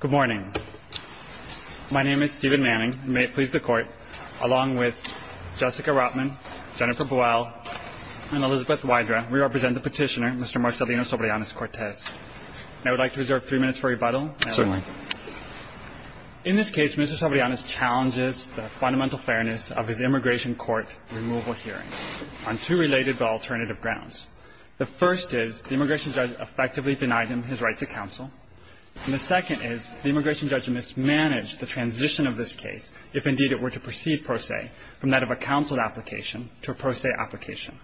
Good morning. My name is Stephen Manning. May it please the Court, along with Jessica Rotman, Jennifer Boyle, and Elizabeth Wydra, we represent the petitioner, Mr. Marcelino Sobreanez-Cortez. And I would like to reserve three minutes for rebuttal. Certainly. In this case, Mr. Sobreanez challenges the fundamental fairness of his immigration court removal hearing on two related but alternative grounds. The first is the immigration judge effectively denied him his right to counsel. And the second is the immigration judge mismanaged the transition of this case, if indeed it were to proceed per se, from that of a counsel application to a per se application.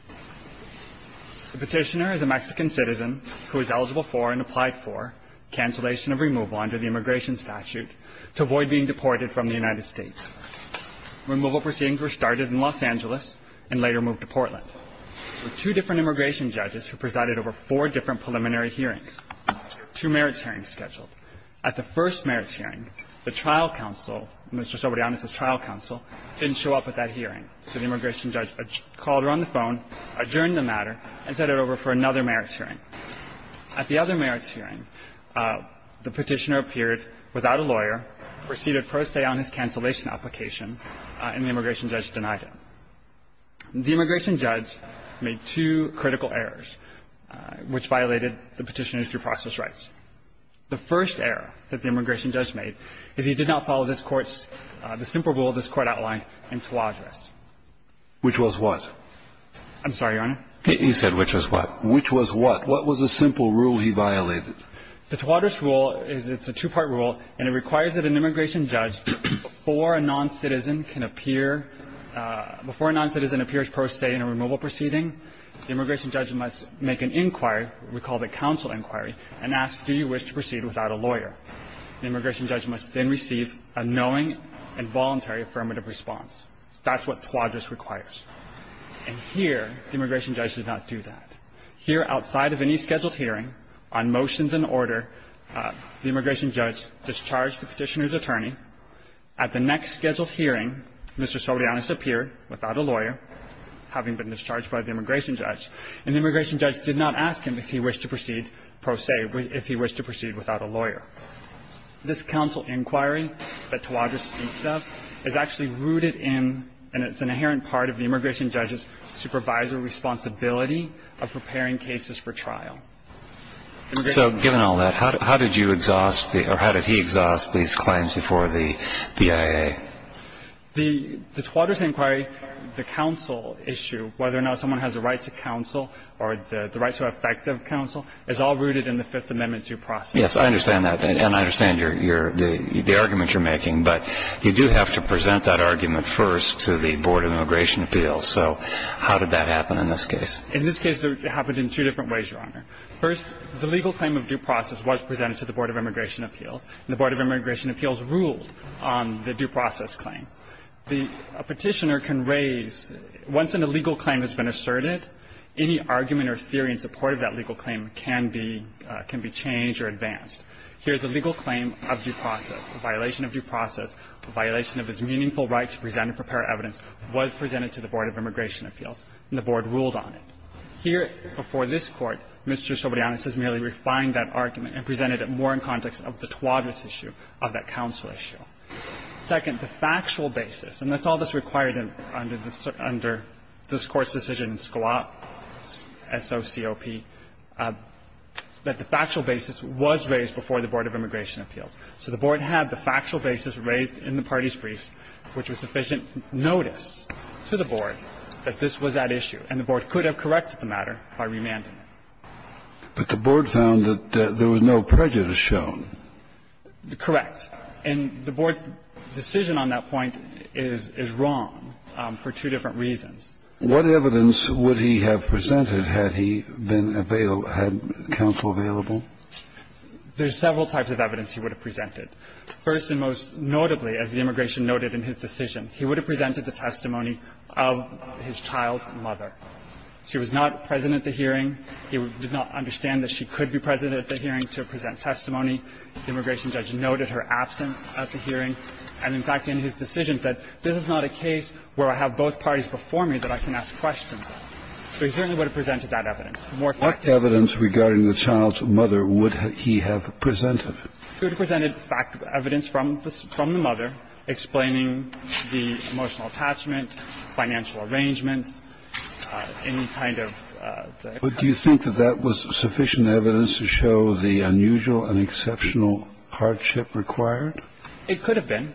The petitioner is a Mexican citizen who is eligible for and applied for cancellation of removal under the immigration statute to avoid being deported from the United States. Removal proceedings were started in Los Angeles and later moved to Portland. There were two different immigration judges who presided over four different preliminary hearings, two merits hearings scheduled. At the first merits hearing, the trial counsel, Mr. Sobreanez's trial counsel, didn't show up at that hearing. So the immigration judge called her on the phone, adjourned the matter, and set it over for another merits hearing. At the other merits hearing, the petitioner appeared without a lawyer, proceeded per se on his cancellation application, and the immigration judge denied him. The immigration judge made two critical errors which violated the petitioner's due process rights. The first error that the immigration judge made is he did not follow this Court's the simple rule this Court outlined in Tawadros. Which was what? I'm sorry, Your Honor. He said which was what. Which was what. What was the simple rule he violated? The Tawadros rule is it's a two-part rule, and it requires that an immigration judge, before a noncitizen can appear, before a noncitizen appears per se in a removal proceeding, the immigration judge must make an inquiry, we call it a counsel inquiry, and ask, do you wish to proceed without a lawyer? The immigration judge must then receive a knowing and voluntary affirmative response. That's what Tawadros requires. And here, the immigration judge did not do that. Here, outside of any scheduled hearing, on motions and order, the immigration judge discharged the petitioner's attorney. At the next scheduled hearing, Mr. Soriano disappeared without a lawyer, having been discharged by the immigration judge. And the immigration judge did not ask him if he wished to proceed per se, if he wished to proceed without a lawyer. This counsel inquiry that Tawadros speaks of is actually rooted in, and it's an inherent part of the immigration judge's supervisory responsibility of preparing cases for trial. Immigration judge. So given all that, how did you exhaust the or how did he exhaust these claims before the DIA? The Tawadros inquiry, the counsel issue, whether or not someone has a right to counsel or the right to effective counsel, is all rooted in the Fifth Amendment due process. Yes, I understand that. And I understand your, the argument you're making. But you do have to present that argument first to the Board of Immigration Appeals. So how did that happen in this case? In this case, it happened in two different ways, Your Honor. First, the legal claim of due process was presented to the Board of Immigration Appeals, and the Board of Immigration Appeals ruled on the due process claim. The petitioner can raise, once an illegal claim has been asserted, any argument or theory in support of that legal claim can be, can be changed or advanced. Here's a legal claim of due process. A violation of due process, a violation of his meaningful right to present and prepare evidence was presented to the Board of Immigration Appeals, and the Board ruled on it. Here, before this Court, Mr. Sobrianos has merely refined that argument and presented it more in context of the Tawadros issue, of that counsel issue. Second, the factual basis, and that's all that's required under this Court's decision in Scalop, S-O-C-O-P, that the factual basis was raised before the Board of Immigration Appeals. So the Board had the factual basis raised in the parties' briefs, which was sufficient notice to the Board that this was at issue, and the Board could have corrected the matter by remanding it. But the Board found that there was no prejudice shown. Correct. And the Board's decision on that point is, is wrong for two different reasons. What evidence would he have presented had he been available, had counsel available? There's several types of evidence he would have presented. First and most notably, as the immigration noted in his decision, he would have presented the testimony of his child's mother. She was not present at the hearing. He did not understand that she could be present at the hearing to present testimony. The immigration judge noted her absence at the hearing. And, in fact, in his decision said, this is not a case where I have both parties before me that I can ask questions of. So he certainly would have presented that evidence. What evidence regarding the child's mother would he have presented? He would have presented fact of evidence from the mother explaining the emotional attachment, financial arrangements, any kind of. But do you think that that was sufficient evidence to show the unusual and exceptional hardship required? It could have been.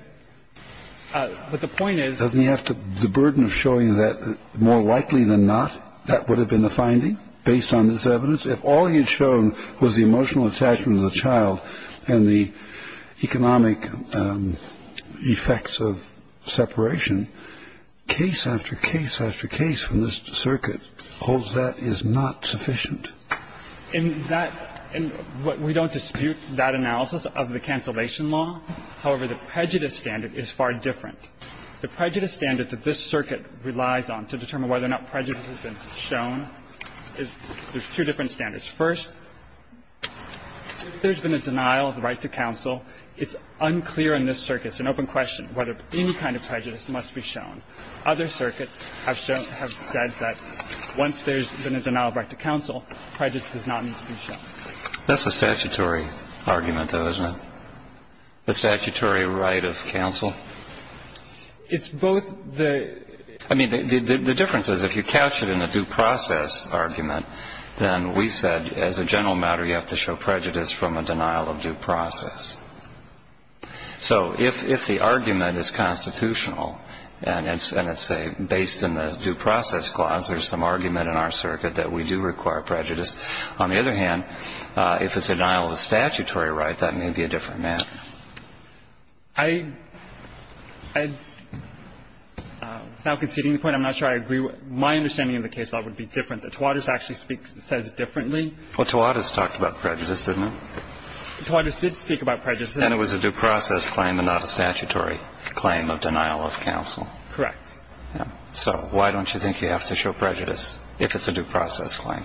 But the point is. Doesn't he have the burden of showing that more likely than not that would have been the finding based on this evidence? If all he had shown was the emotional attachment of the child and the economic effects of separation, case after case after case from this circuit holds that is not sufficient. In that we don't dispute that analysis of the cancellation law. However, the prejudice standard is far different. The prejudice standard that this circuit relies on to determine whether or not prejudice has been shown, there's two different standards. First, if there's been a denial of the right to counsel, it's unclear in this circuit, it's an open question, whether any kind of prejudice must be shown. Other circuits have said that once there's been a denial of right to counsel, prejudice does not need to be shown. That's a statutory argument, though, isn't it? The statutory right of counsel? It's both the. I mean, the difference is if you catch it in a due process argument, then we said, as a general matter, you have to show prejudice from a denial of due process. So if the argument is constitutional and it's based in the due process clause, there's some argument in our circuit that we do require prejudice. On the other hand, if it's a denial of a statutory right, that may be a different matter. I'm not conceding the point. I'm not sure I agree. My understanding of the case would be different, that Tawadis actually speaks and says differently. Well, Tawadis talked about prejudice, didn't he? Tawadis did speak about prejudice. And it was a due process claim and not a statutory claim of denial of counsel. Correct. So why don't you think you have to show prejudice if it's a due process claim?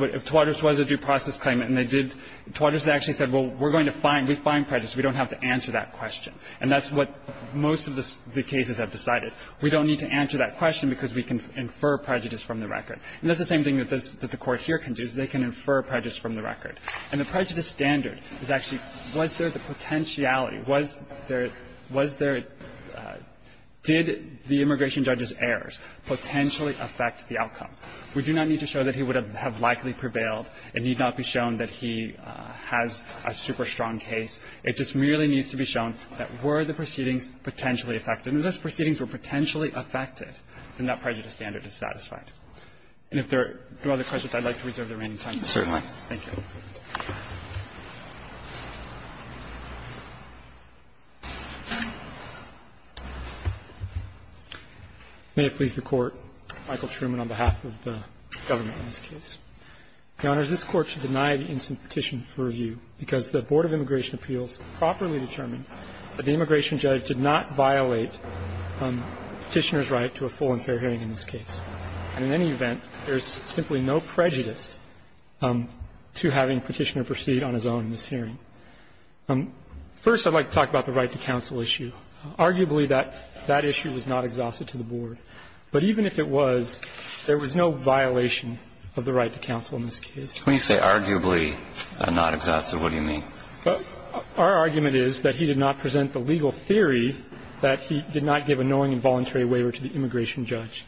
If Tawadis was a due process claim and they did – Tawadis actually said, well, we're going to find – we find prejudice. We don't have to answer that question. And that's what most of the cases have decided. We don't need to answer that question because we can infer prejudice from the record. And that's the same thing that the Court here can do, is they can infer prejudice from the record. And the prejudice standard is actually, was there the potentiality? Was there – did the immigration judge's errors potentially affect the outcome? We do not need to show that he would have likely prevailed. It need not be shown that he has a super strong case. It just merely needs to be shown that were the proceedings potentially affected – and if those proceedings were potentially affected, then that prejudice standard is satisfied. And if there are no other questions, I'd like to reserve the remaining time. Thank you. May it please the Court. Mr. Chairman, I would like to begin by saying that I am not going to support Michael Truman on behalf of the government in this case. Your Honors, this Court should deny the instant petition for review because the Board of Immigration Appeals properly determined that the immigration judge did not violate Petitioner's right to a full and fair hearing in this case. And in any event, there is simply no prejudice to having Petitioner proceed on his own in this hearing. First, I'd like to talk about the right to counsel issue. Arguably, that issue was not exhausted to the Board. But even if it was, there was no violation of the right to counsel in this case. When you say arguably not exhausted, what do you mean? Our argument is that he did not present the legal theory that he did not give a knowing and voluntary waiver to the immigration judge.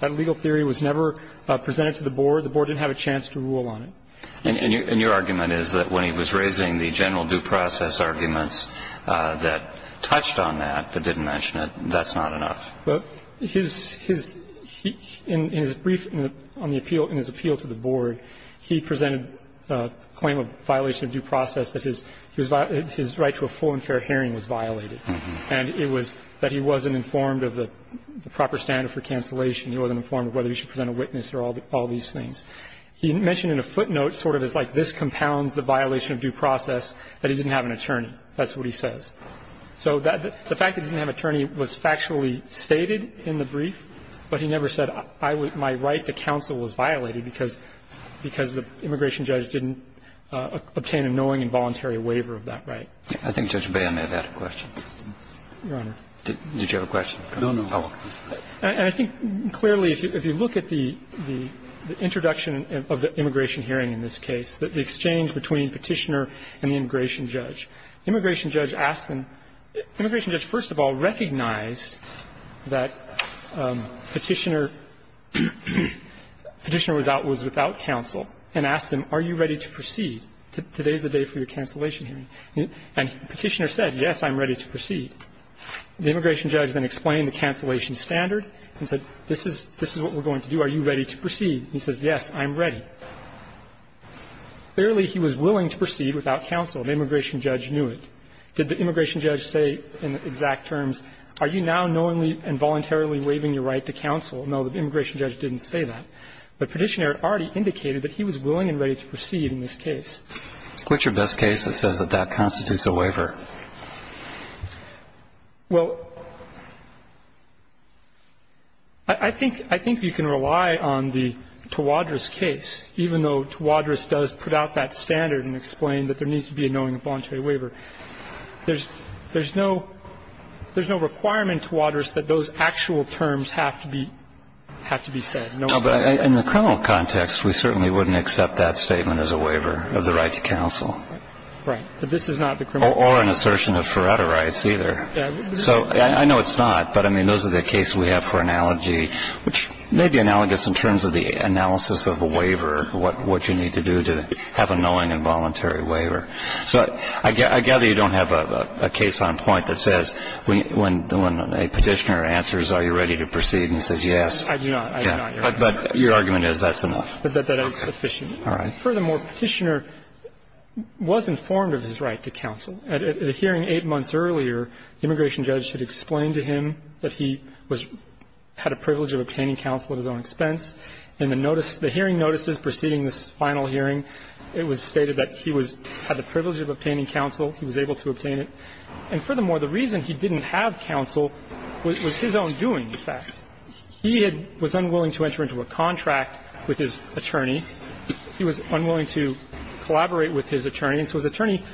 That legal theory was never presented to the Board. The Board didn't have a chance to rule on it. And your argument is that when he was raising the general due process arguments that touched on that, but didn't mention it, that's not enough. His brief on the appeal, in his appeal to the Board, he presented a claim of violation of due process that his right to a full and fair hearing was violated. And it was that he wasn't informed of the proper standard for cancellation. He wasn't informed of whether he should present a witness or all these things. He mentioned in a footnote, sort of as like this compounds the violation of due process, that he didn't have an attorney. That's what he says. So the fact that he didn't have an attorney was factually stated in the brief. But he never said my right to counsel was violated because the immigration judge didn't obtain a knowing and voluntary waiver of that right. Kennedy. I think Judge Bayham may have had a question. Your Honor. Did you have a question? No, no. I think clearly if you look at the introduction of the immigration hearing in this case, the exchange between Petitioner and the immigration judge, the immigration judge asked him, immigration judge first of all recognized that Petitioner was without counsel and asked him, are you ready to proceed? Today is the day for your cancellation hearing. And Petitioner said, yes, I'm ready to proceed. The immigration judge then explained the cancellation standard and said, this is what we're going to do. Are you ready to proceed? He says, yes, I'm ready. Clearly he was willing to proceed without counsel. The immigration judge knew it. Did the immigration judge say in exact terms, are you now knowingly and voluntarily waiving your right to counsel? No, the immigration judge didn't say that. But Petitioner had already indicated that he was willing and ready to proceed in this case. What's your best case that says that that constitutes a waiver? Well, I think you can rely on the Tawadros case, even though Tawadros does put out that standard and explain that there needs to be a knowingly and voluntarily There's no requirement, Tawadros, that those actual terms have to be said. In the criminal context, we certainly wouldn't accept that statement as a waiver of the right to counsel. Right. But this is not the criminal context. Or an assertion of Faretta rights, either. So I know it's not. But, I mean, those are the cases we have for analogy, which may be analogous in terms of the analysis of a waiver, what you need to do to have a knowingly and voluntarily waiver. So I gather you don't have a case on point that says, when a Petitioner answers, are you ready to proceed? And he says, yes. I do not. I do not, Your Honor. But your argument is that's enough. That that is sufficient. All right. Furthermore, Petitioner was informed of his right to counsel. At a hearing eight months earlier, the immigration judge had explained to him that he had a privilege of obtaining counsel at his own expense. In the notice, the hearing notices preceding this final hearing, it was stated that he had the privilege of obtaining counsel. He was able to obtain it. And, furthermore, the reason he didn't have counsel was his own doing, in fact. He was unwilling to enter into a contract with his attorney. He was unwilling to collaborate with his attorney. And so his attorney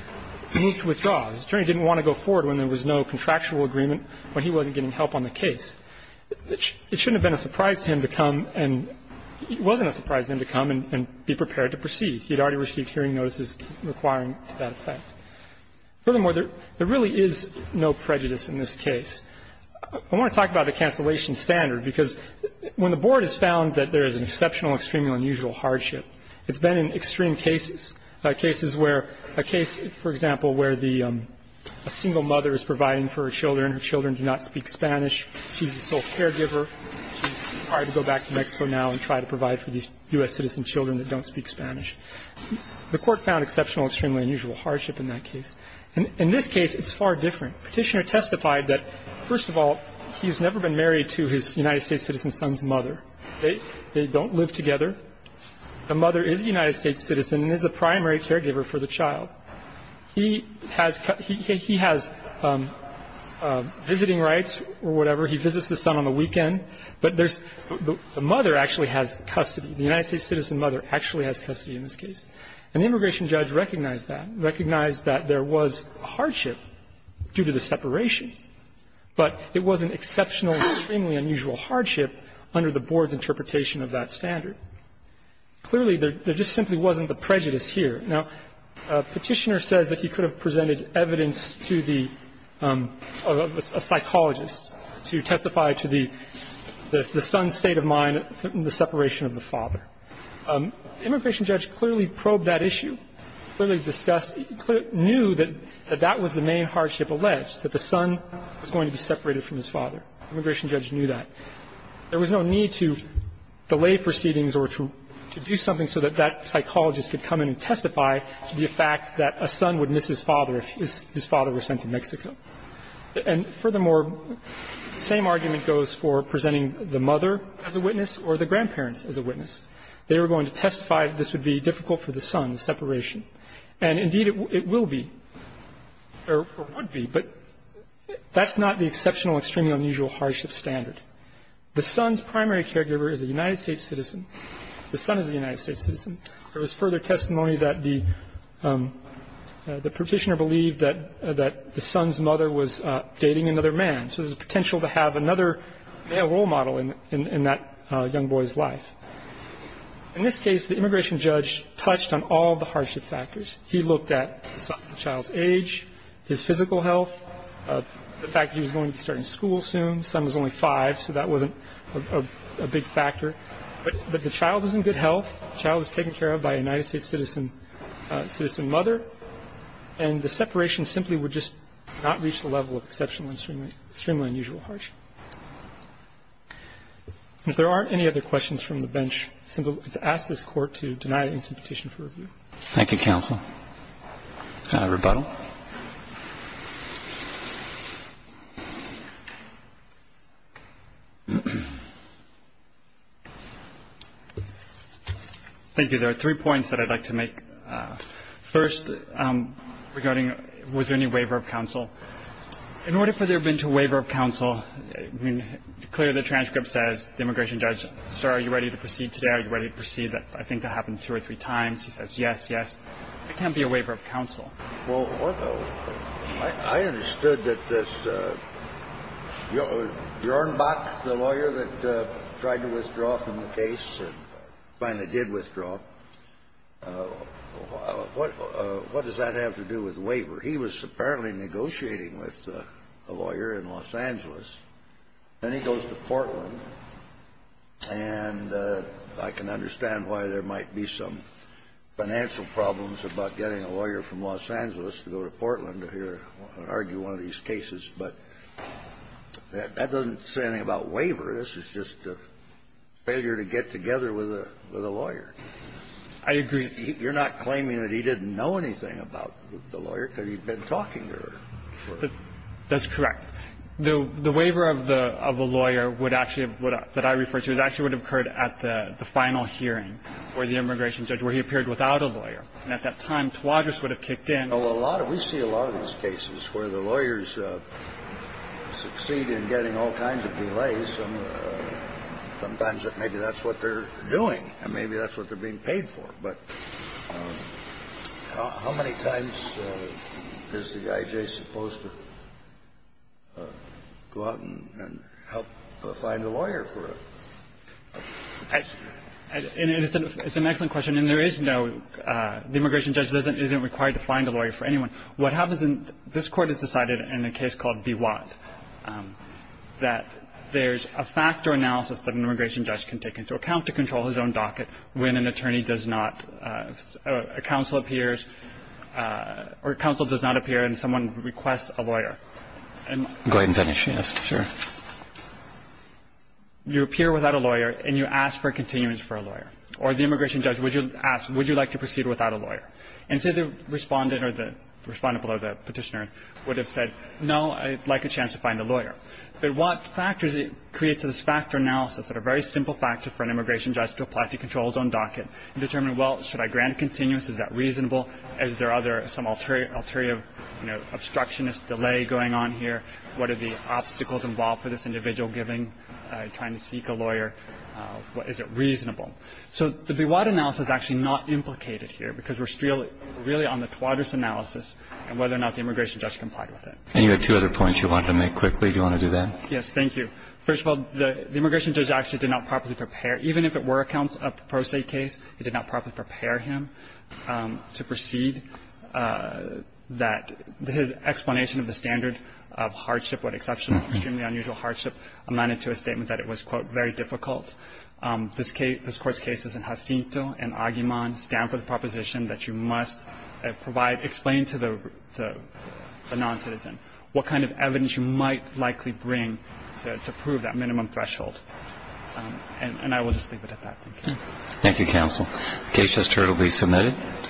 moved to withdraw. His attorney didn't want to go forward when there was no contractual agreement, when he wasn't getting help on the case. It shouldn't have been a surprise to him to come and be prepared to proceed. He had already received hearing notices requiring that effect. Furthermore, there really is no prejudice in this case. I want to talk about the cancellation standard, because when the Board has found that there is an exceptional, extremely unusual hardship, it's been in extreme cases, cases where a case, for example, where the single mother is providing for her children, her children do not speak Spanish, she's the sole caregiver, she's trying to go back to Mexico now and try to provide for these U.S. citizen children that don't speak Spanish. The Court found exceptional, extremely unusual hardship in that case. In this case, it's far different. The Petitioner testified that, first of all, he's never been married to his United States citizen son's mother. They don't live together. The mother is a United States citizen and is the primary caregiver for the child. He has visiting rights or whatever. He visits his son on the weekend. But there's the mother actually has custody. The United States citizen mother actually has custody in this case. And the immigration judge recognized that, recognized that there was a hardship due to the separation, but it wasn't exceptional, extremely unusual hardship under the board's interpretation of that standard. Clearly, there just simply wasn't the prejudice here. Now, Petitioner says that he could have presented evidence to the psychologist to testify to the son's state of mind in the separation of the father. The immigration judge clearly probed that issue, clearly discussed, knew that that was the main hardship alleged, that the son was going to be separated from his father. The immigration judge knew that. There was no need to delay proceedings or to do something so that that psychologist could come in and testify to the fact that a son would miss his father if his father were sent to Mexico. And furthermore, the same argument goes for presenting the mother as a witness or the grandparents as a witness. They were going to testify that this would be difficult for the son, the separation. And, indeed, it will be, or would be, but that's not the exceptional, extremely unusual hardship standard. The son's primary caregiver is a United States citizen. The son is a United States citizen. There was further testimony that the Petitioner believed that the son's mother was dating another man, so there was a potential to have another male role model in that young boy's life. In this case, the immigration judge touched on all the hardship factors. He looked at the child's age, his physical health, the fact that he was going to be starting school soon. The son was only five, so that wasn't a big factor. But the child is in good health. The child is taken care of by a United States citizen mother. And the separation simply would just not reach the level of exceptional, extremely unusual hardship. And if there aren't any other questions from the bench, I'd simply like to ask this Court to deny an instant petition for review. Thank you, counsel. Can I rebuttal? Thank you. There are three points that I'd like to make. First, regarding was there any waiver of counsel. In order for there to have been a waiver of counsel, I mean, clearly the transcript says the immigration judge, sir, are you ready to proceed today? Are you ready to proceed? I think that happened two or three times. He says yes, yes. It can't be a waiver of counsel. Well, I understood that this Jornbach, the lawyer that tried to withdraw from the case and finally did withdraw, what does that have to do with waiver? He was apparently negotiating with a lawyer in Los Angeles. Then he goes to Portland. And I can understand why there might be some financial problems about getting a lawyer from Los Angeles to go to Portland to hear and argue one of these cases. But that doesn't say anything about waiver. This is just a failure to get together with a lawyer. I agree. You're not claiming that he didn't know anything about the lawyer because he'd been talking to her. That's correct. The waiver of the lawyer would actually have been, that I refer to, it actually would have occurred at the final hearing where the immigration judge, where he appeared without a lawyer. And at that time, Tawadros would have kicked in. Well, a lot of, we see a lot of these cases where the lawyers succeed in getting all kinds of delays. Sometimes maybe that's what they're doing and maybe that's what they're being paid for. But how many times is the I.J. supposed to go out and help find a lawyer for a case? It's an excellent question. And there is no, the immigration judge isn't required to find a lawyer for anyone. What happens in, this Court has decided in a case called B. Watt that there's a fact or analysis that an immigration judge can take into account to control his own docket when an attorney does not, a counsel appears, or counsel does not appear and someone requests a lawyer. Go ahead and finish. Yes, sure. You appear without a lawyer and you ask for a continuance for a lawyer. Or the immigration judge would ask, would you like to proceed without a lawyer? And say the respondent or the respondent below the petitioner would have said, no, I'd like a chance to find a lawyer. But Watt factors it, creates this fact or analysis that a very simple factor for an attorney to control his own docket and determine, well, should I grant a continuance? Is that reasonable? Is there other, some ulterior, you know, obstructionist delay going on here? What are the obstacles involved for this individual giving, trying to seek a lawyer? Is it reasonable? So the B. Watt analysis is actually not implicated here because we're really on the Tawadros analysis and whether or not the immigration judge complied with it. And you had two other points you wanted to make quickly. Do you want to do that? Yes, thank you. First of all, the immigration judge actually did not properly prepare, even if it were accounts of the Pro Se case, he did not properly prepare him to proceed. That his explanation of the standard of hardship, what exceptional, extremely unusual hardship, amounted to a statement that it was, quote, very difficult. This case, this Court's cases in Jacinto and Aguiman stand for the proposition that you must provide, explain to the noncitizen what kind of evidence you might likely bring to prove that minimum threshold. And I will just leave it at that. Thank you. Thank you, counsel. The case has turned. It will be submitted.